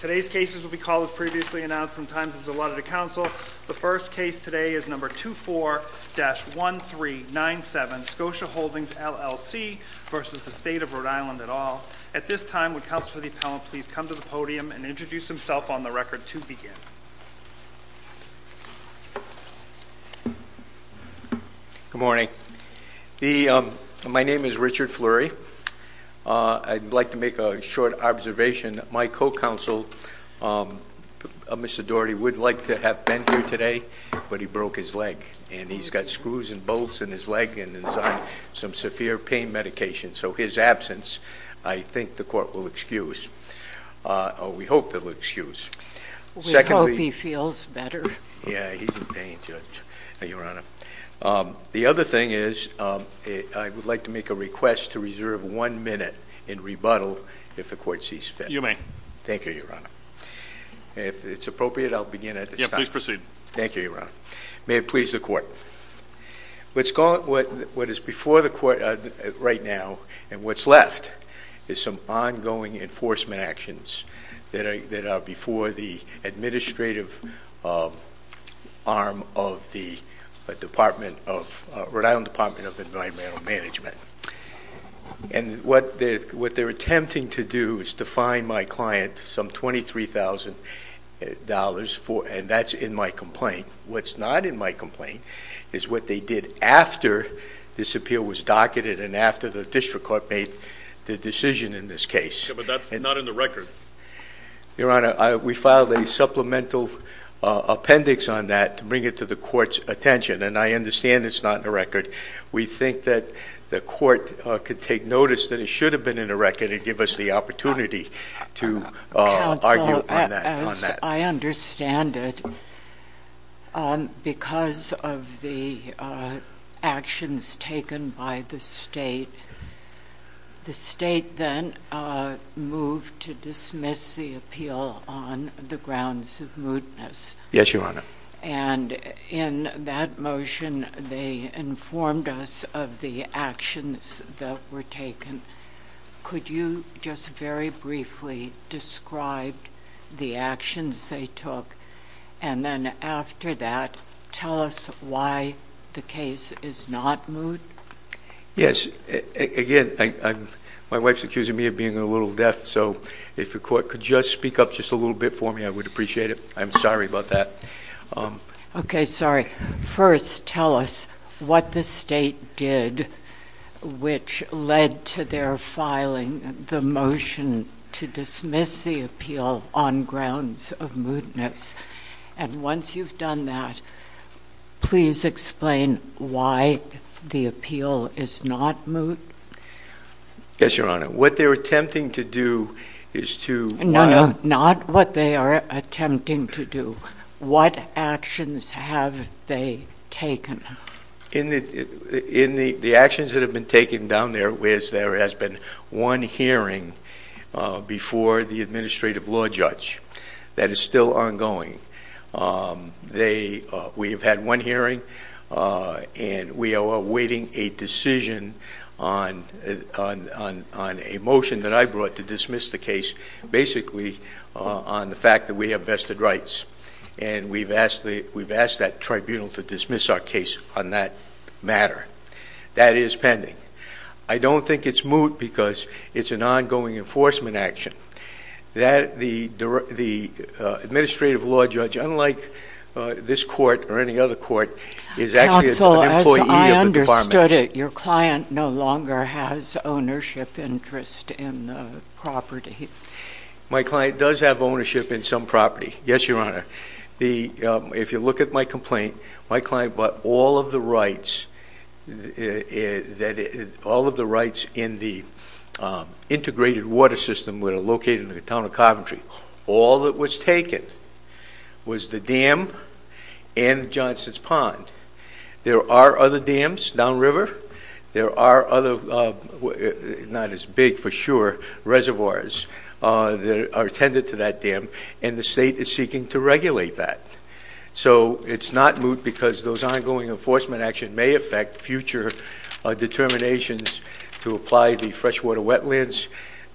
Good morning. My name is Richard Fleury. I'd like to make a short observation. My co-counsel Mr. Daugherty would like to have been here today, but he broke his leg. And he's got screws and bolts in his leg and is on some severe pain medication. So his absence I think the court will excuse. We hope they'll excuse. We hope he feels better. Yeah, he's in pain, Judge. Your Honor. The other thing is I would like to make a request to reserve one minute and rebuttal if the court sees fit. You may. Thank you, Your Honor. If it's appropriate I'll begin at this time. Yeah, please proceed. Thank you, Your Honor. May it please the court. What is before the court right now and what's left is some ongoing enforcement actions that are before the administrative arm of the Rhode Island Department of Environmental Management. And what they're attempting to do is to fine my client some $23,000 and that's in my complaint. What's not in my complaint is what they did after this appeal was docketed and after the district court made the decision in this case. Yeah, but that's not in the record. Your Honor, we filed a supplemental appendix on that to bring it to the court's attention. And I understand it's not in the record. We think that the court could take notice that it should have been in the record and give us the opportunity to argue on that. Counsel, as I understand it, because of the actions taken by the state, the state then moved to dismiss the appeal on the grounds of mootness. Yes, Your Honor. And in that motion, they informed us of the actions that were taken. Could you just very briefly describe the actions they took and then after that, tell us why the case is not moot? Yes. Again, my wife's accusing me of being a little deaf, so if the court could just speak up just a little bit for me, I would appreciate it. I'm sorry about that. Okay, sorry. First, tell us what the state did which led to their filing the motion to dismiss the appeal on grounds of mootness. And once you've done that, please explain why the appeal is not moot. Yes, Your Honor. What they're attempting to do is to... No, no, not what they are attempting to do. What actions have they taken? In the actions that have been taken down there is there has been one hearing before the administrative law judge that is still ongoing. We have had one hearing and we are awaiting a decision on a motion that I brought to dismiss the case basically on the fact that we have vested rights. And we've asked that tribunal to dismiss our case on that matter. That is pending. I don't think it's moot because it's an ongoing enforcement action. The administrative law judge, unlike this court or any other court, is actually an employee of the department. Counsel, as I understood it, your client no longer has ownership interest in the property. My client does have ownership in some property. Yes, Your Honor. If you look at my complaint, my client bought all of the rights in the integrated water system that are located in the town of Carpentry. All that was taken was the dam and Johnson's Pond. There are other dams down river. There are other, not as big for sure, reservoirs that are attended to that dam. And the state is seeking to regulate that. So it's not moot because those ongoing enforcement actions may affect future determinations to apply the Freshwater Wetlands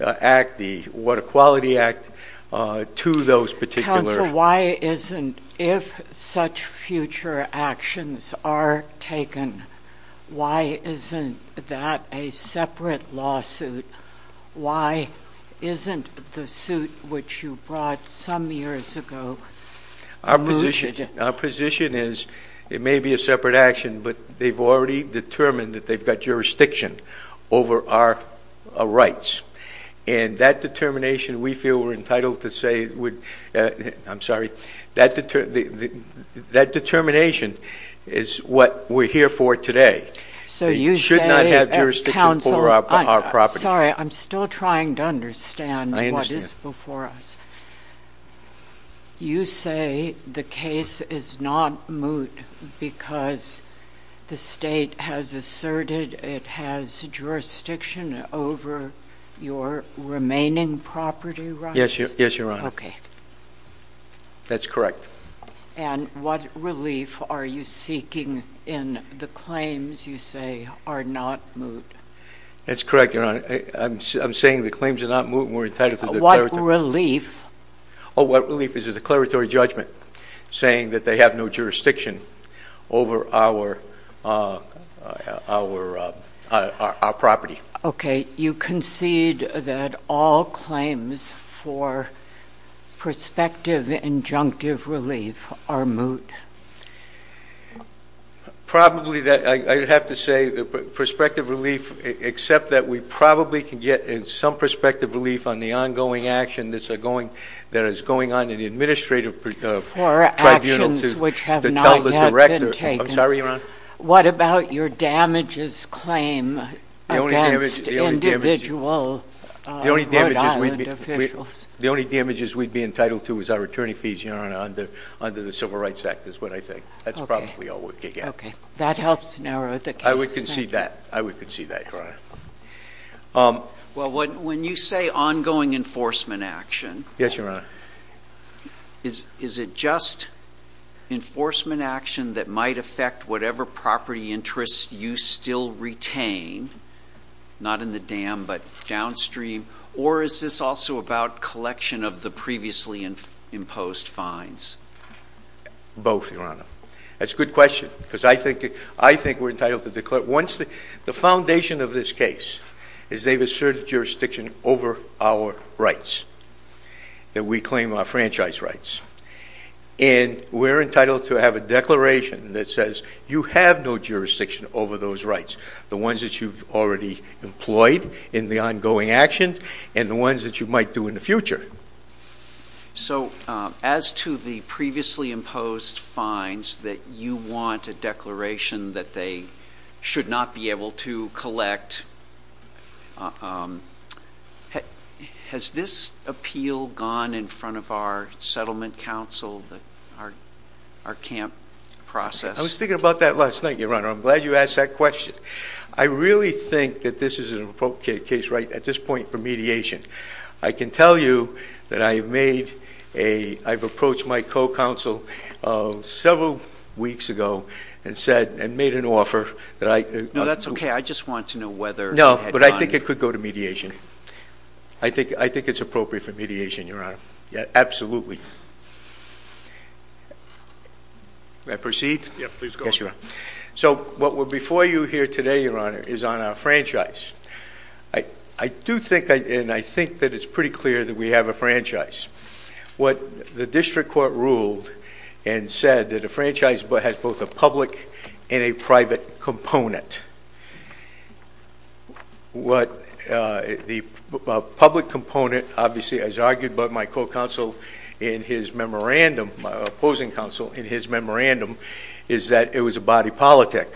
Act, the Water Quality Act to those particular... Counsel, why isn't, if such future actions are taken, why isn't that a separate lawsuit? Why isn't the lawsuit which you brought some years ago mooted? Our position is it may be a separate action, but they've already determined that they've got jurisdiction over our rights. And that determination, we feel we're entitled to say, I'm sorry, that determination is what we're here for today. So you say, counsel, sorry, I'm still trying to understand what is before us. You say the case is not moot because the state has asserted it has jurisdiction over your remaining property rights? Yes, your Honor. Okay. That's correct. And what relief are you seeking in the claims you say are not moot? That's correct, your Honor. I'm saying the claims are not moot and we're entitled to the declaratory... What relief? Oh, what relief is a declaratory judgment saying that they have no jurisdiction over our property? Okay. You concede that all claims for prospective injunctive relief are moot? Probably that I would have to say prospective relief, except that we probably can get some prospective relief on the ongoing action that is going on in the administrative tribunal to tell the director. I'm sorry, your Honor? What about your damages claim against individual Rhode Island officials? The only damages we'd be entitled to is our attorney fees, your Honor, under the Civil Rights Act is what I think. That's probably all we'd get. Okay. That helps narrow the case. I would concede that. I would concede that, your Honor. Well, when you say ongoing enforcement action, is it just enforcement action that might affect whatever property interests you still retain, not in the dam, but downstream? Or is this also about collection of the previously imposed fines? Both, your Honor. That's a good question, because I think we're entitled to declare... The foundation of this case is they've asserted jurisdiction over our rights, that we claim our franchise rights. And we're entitled to have a declaration that says you have no jurisdiction over those rights. The ones that you've already employed in the ongoing action, and the ones that you might do in the future. So, as to the previously imposed fines that you want a declaration that they should not be able to collect, has this appeal gone in front of our settlement council, our camp process? I was thinking about that last night, your Honor. I'm glad you asked that question. I really think that this is an appropriate case right at this point for mediation. I can tell you that I've approached my co-counsel several weeks ago and made an offer that I... No, that's okay. I just want to know whether... No, but I think it could go to mediation. I think it's appropriate for mediation, your Honor. Absolutely. May I proceed? Yeah, please go ahead. Yes, your Honor. So, what we're before you here today, your Honor, is on our franchise. I do think, and I think that it's pretty clear that we have a franchise. What the district court ruled and said that a franchise has both a public and a private component. What the public component, obviously, as argued by my co-counsel in his memorandum, my opposing counsel in his memorandum, is that it was a body politic.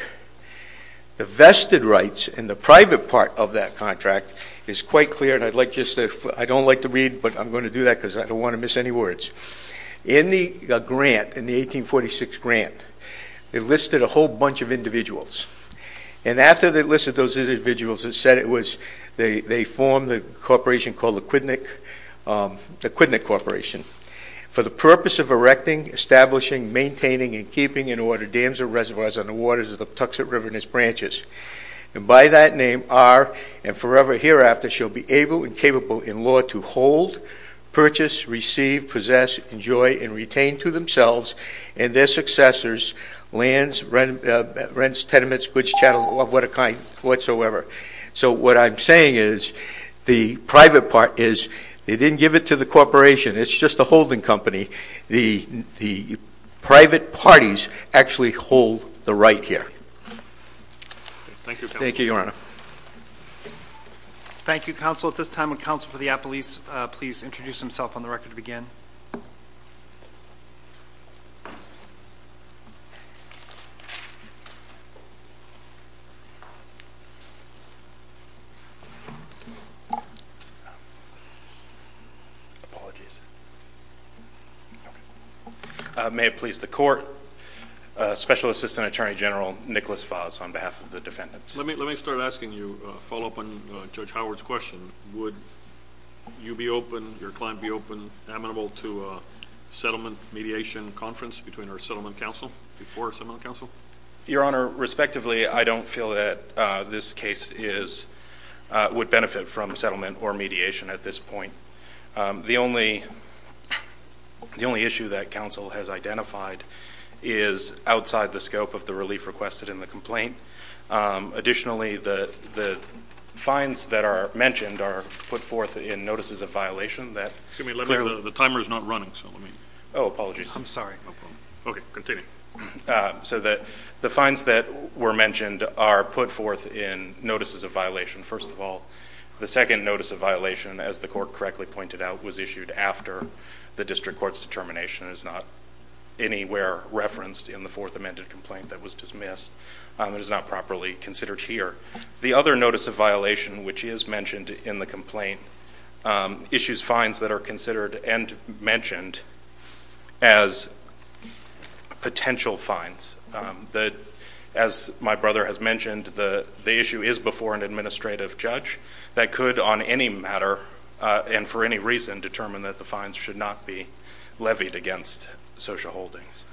The vested rights in the private part of that contract is quite clear, and I'd like just to... I don't like to read, but I'm going to do that because I don't want to miss any words. In the grant, in the 1846 grant, they listed a whole bunch of individuals. And after they listed those individuals, it said it was... They formed a corporation called the Quidneck Corporation. For the purpose of erecting, establishing, maintaining, and keeping in order dams or reservoirs on the waters of the Tuxet River and its branches. And by that name, are, and forever hereafter, shall be able and capable in law to hold, purchase, receive, possess, enjoy, and retain to themselves and their successors lands, rents, tenements, goods, chattel, of what a kind, whatsoever. So what I'm saying is, the private part is, they didn't give it to the corporation. It's just a holding company. The private parties actually hold the right here. Thank you, counsel. Thank you, Your Honor. Thank you, counsel. At this time, would counsel for the appellees please introduce himself on the record to begin? Apologies. May it please the court, Special Assistant Attorney General Nicholas Fahs on behalf of the defendants. Let me start asking you a follow-up on Judge Howard's question. Would you be open, your client be open, amenable to a settlement mediation conference between our settlement counsel, before our settlement counsel? Your Honor, respectively, I don't feel that this case is, would benefit from settlement or mediation at this point. The only issue that counsel has identified is outside the scope of the relief requested in the complaint. Additionally, the fines that are mentioned are put forth in notices of violation that Excuse me, the timer is not running. Oh, apologies. I'm sorry. Okay, continue. So the fines that were mentioned are put forth in notices of violation. First of all, the second notice of violation, as the court correctly pointed out, was issued after the district court's determination. It is not anywhere referenced in the fourth amended complaint that was dismissed. It is not properly considered here. The other notice of violation, which is mentioned in the complaint, issues fines that are considered and mentioned as potential fines. As my brother has mentioned, the issue is before an administrative judge that could, on any matter and for any reason, determine that the fines should not be levied against social holdings.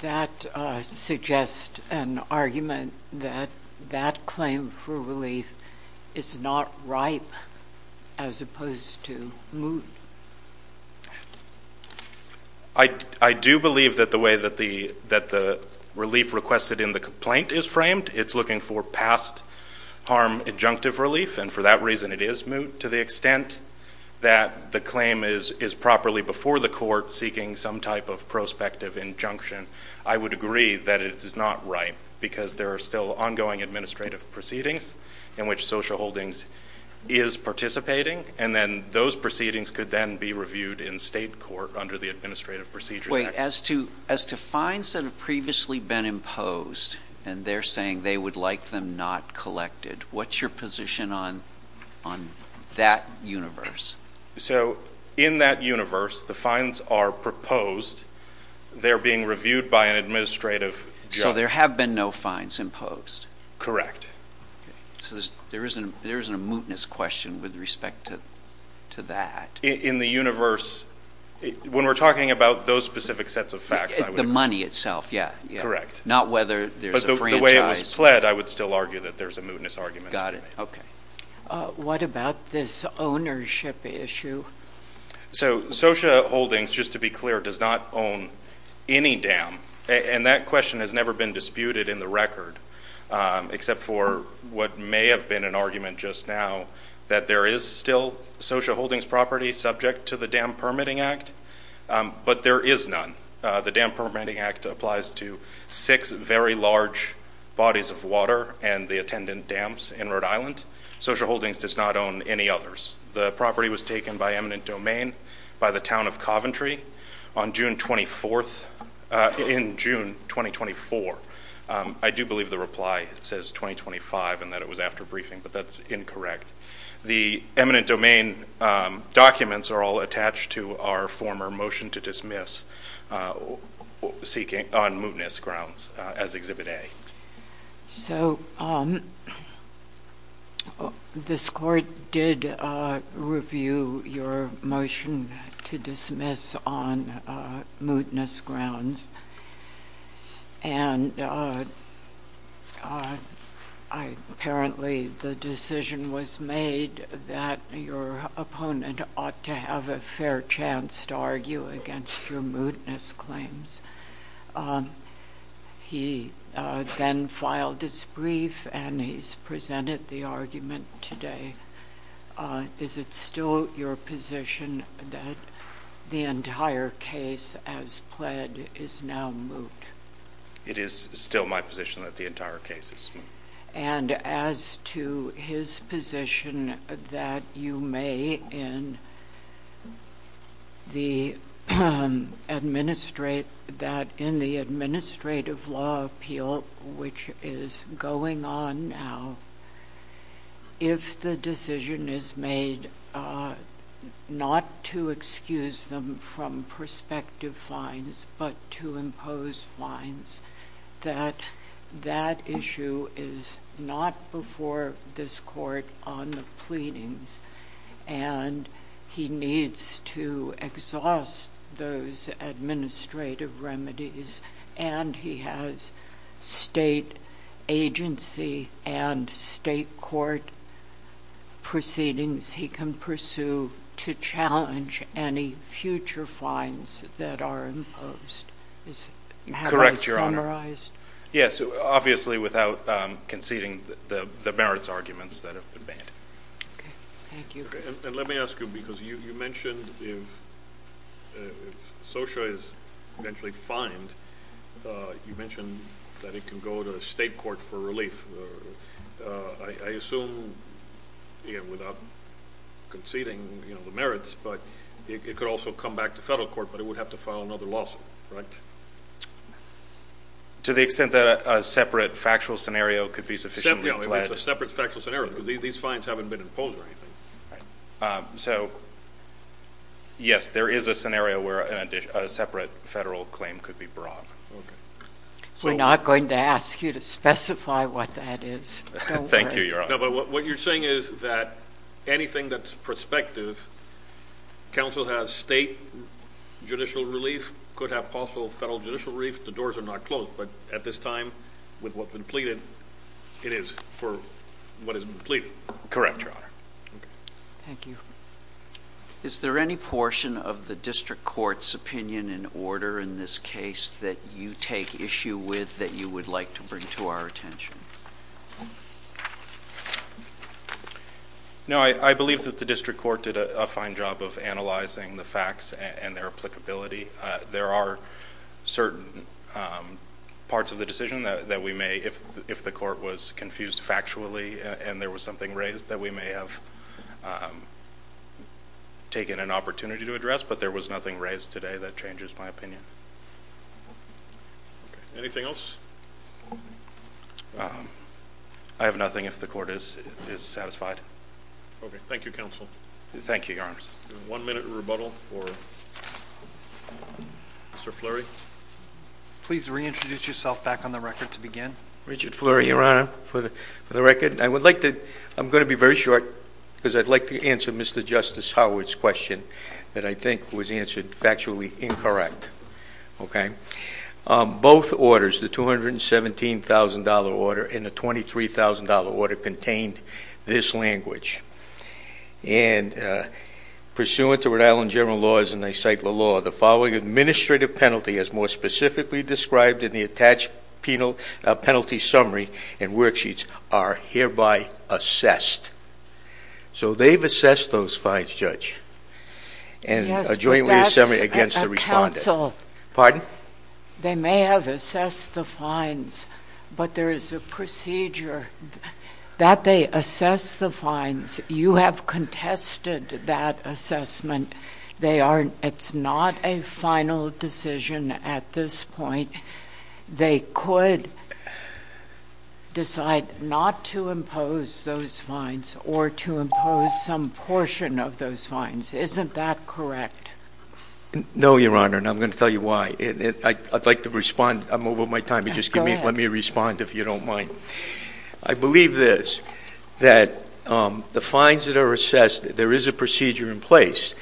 That suggests an argument that that claim for relief is not ripe as opposed to moot. I do believe that the way that the relief requested in the complaint is framed, it's looking for past harm injunctive relief. And for that reason, it is moot to the extent that the claim is properly before the court seeking some type of prospective injunction. I would agree that it is not ripe because there are still ongoing administrative proceedings in which social holdings is participating. And then those proceedings could then be reviewed in state court under the Administrative Procedures Act. As to fines that have previously been imposed and they're saying they would like them not collected, what's your position on that universe? So in that universe, the fines are proposed. They're being reviewed by an administrative judge. So there have been no fines imposed? Correct. So there isn't a mootness question with respect to that? In the universe, when we're talking about those specific sets of facts, I would agree. The money itself, yeah. Correct. Not whether there's a franchise. But the way it was pled, I would still argue that there's a mootness argument. Got it. Okay. What about this ownership issue? So social holdings, just to be clear, does not own any dam. And that question has never been disputed in the record, except for what may have been an that there is still social holdings property subject to the Dam Permitting Act. But there is none. The Dam Permitting Act applies to six very large bodies of water and the attendant dams in Rhode Island. Social holdings does not own any others. The property was taken by eminent domain by the town of Coventry on June 24th, in June 2024. I do believe the reply says 2025 and that it was after briefing, but that's incorrect. The eminent domain documents are all attached to our former motion to dismiss seeking on mootness grounds as Exhibit A. So this court did review your motion to dismiss on mootness grounds. And apparently the decision was made that your opponent ought to have a fair chance to argue against your mootness claims. He then filed his brief and he's presented the argument today. Is it still your position that the entire case as pled is now moot? It is still my position that the entire case is moot. And as to his position that you may in the administrative law appeal, which is going on now, if the decision is made not to excuse them from prospective fines, but to impose fines, that that issue is not before this court on the pleadings. And he needs to exhaust those administrative remedies. And he has state agency and state court proceedings he can pursue to challenge any future fines that are imposed. Is that how I summarized? Yes, obviously without conceding the merits arguments that have been made. Okay. Thank you. And let me ask you, because you mentioned if SOCIA is eventually fined, you mentioned that it can go to state court for relief. I assume without conceding the merits, but it could also come back to federal court, but it would have to file another lawsuit, right? To the extent that a separate factual scenario could be sufficiently pled. No, it's a separate factual scenario because these fines haven't been imposed or anything. So, yes, there is a scenario where a separate federal claim could be brought. We're not going to ask you to specify what that is. Thank you, Your Honor. No, but what you're saying is that anything that's prospective, counsel has state judicial relief, could have possible federal judicial relief. The doors are not closed, but at this time, with what's been pleaded, it is for what has been pleaded. Correct, Your Honor. Thank you. Is there any portion of the district court's opinion in order in this case that you take issue with that you would like to bring to our attention? No, I believe that the district court did a fine job of analyzing the facts and their applicability. There are certain parts of the decision that we may, if the court was confused factually and there was something raised that we may have taken an opportunity to address, but there was nothing raised today that changes my opinion. Anything else? I have nothing if the court is satisfied. Okay, thank you, counsel. Thank you, Your Honor. One minute rebuttal for Mr. Fleury. Please reintroduce yourself back on the record to begin. Richard Fleury, Your Honor, for the record. I would like to, I'm going to be very short because I'd like to answer Mr. Justice Howard's question that I think was answered factually incorrect. Okay. Both orders, the $217,000 order and the $23,000 order contained this language. And pursuant to Rhode Island general laws, and they cite the law, the following administrative penalty as more specifically described in the attached penal penalty summary and worksheets are hereby assessed. So they've assessed those fines, Judge. Yes, but that's a counsel. Pardon? They may have assessed the fines, but there is a procedure that they assess the fines. You have contested that assessment. They are, it's not a final decision at this point. They could decide not to impose those fines or to impose some portion of those fines. Isn't that correct? No, Your Honor, and I'm going to tell you why. I'd like to respond. I'm over my time. You just give me, let me respond if you don't mind. I believe this, that the fines that are assessed, there is a procedure in place.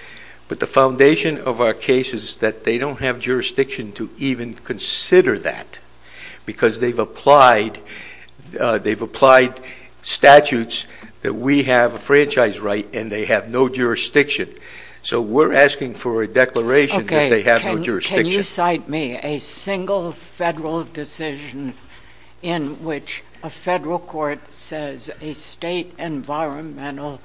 But the foundation of our case is that they don't have jurisdiction to even consider that. Because they've applied, they've applied statutes that we have a franchise right and they have no jurisdiction. So we're asking for a declaration that they have no jurisdiction. Can you cite me a single federal decision in which a federal court says a state environmental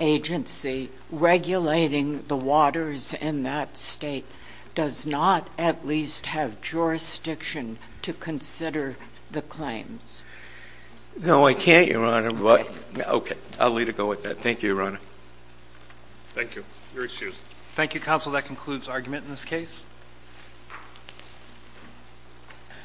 agency regulating the waters in that state does not at least have jurisdiction to consider the claims? No, I can't, Your Honor. Okay, I'll let it go with that. Thank you, Your Honor. Thank you. You're excused. Thank you, Counsel. That concludes argument in this case.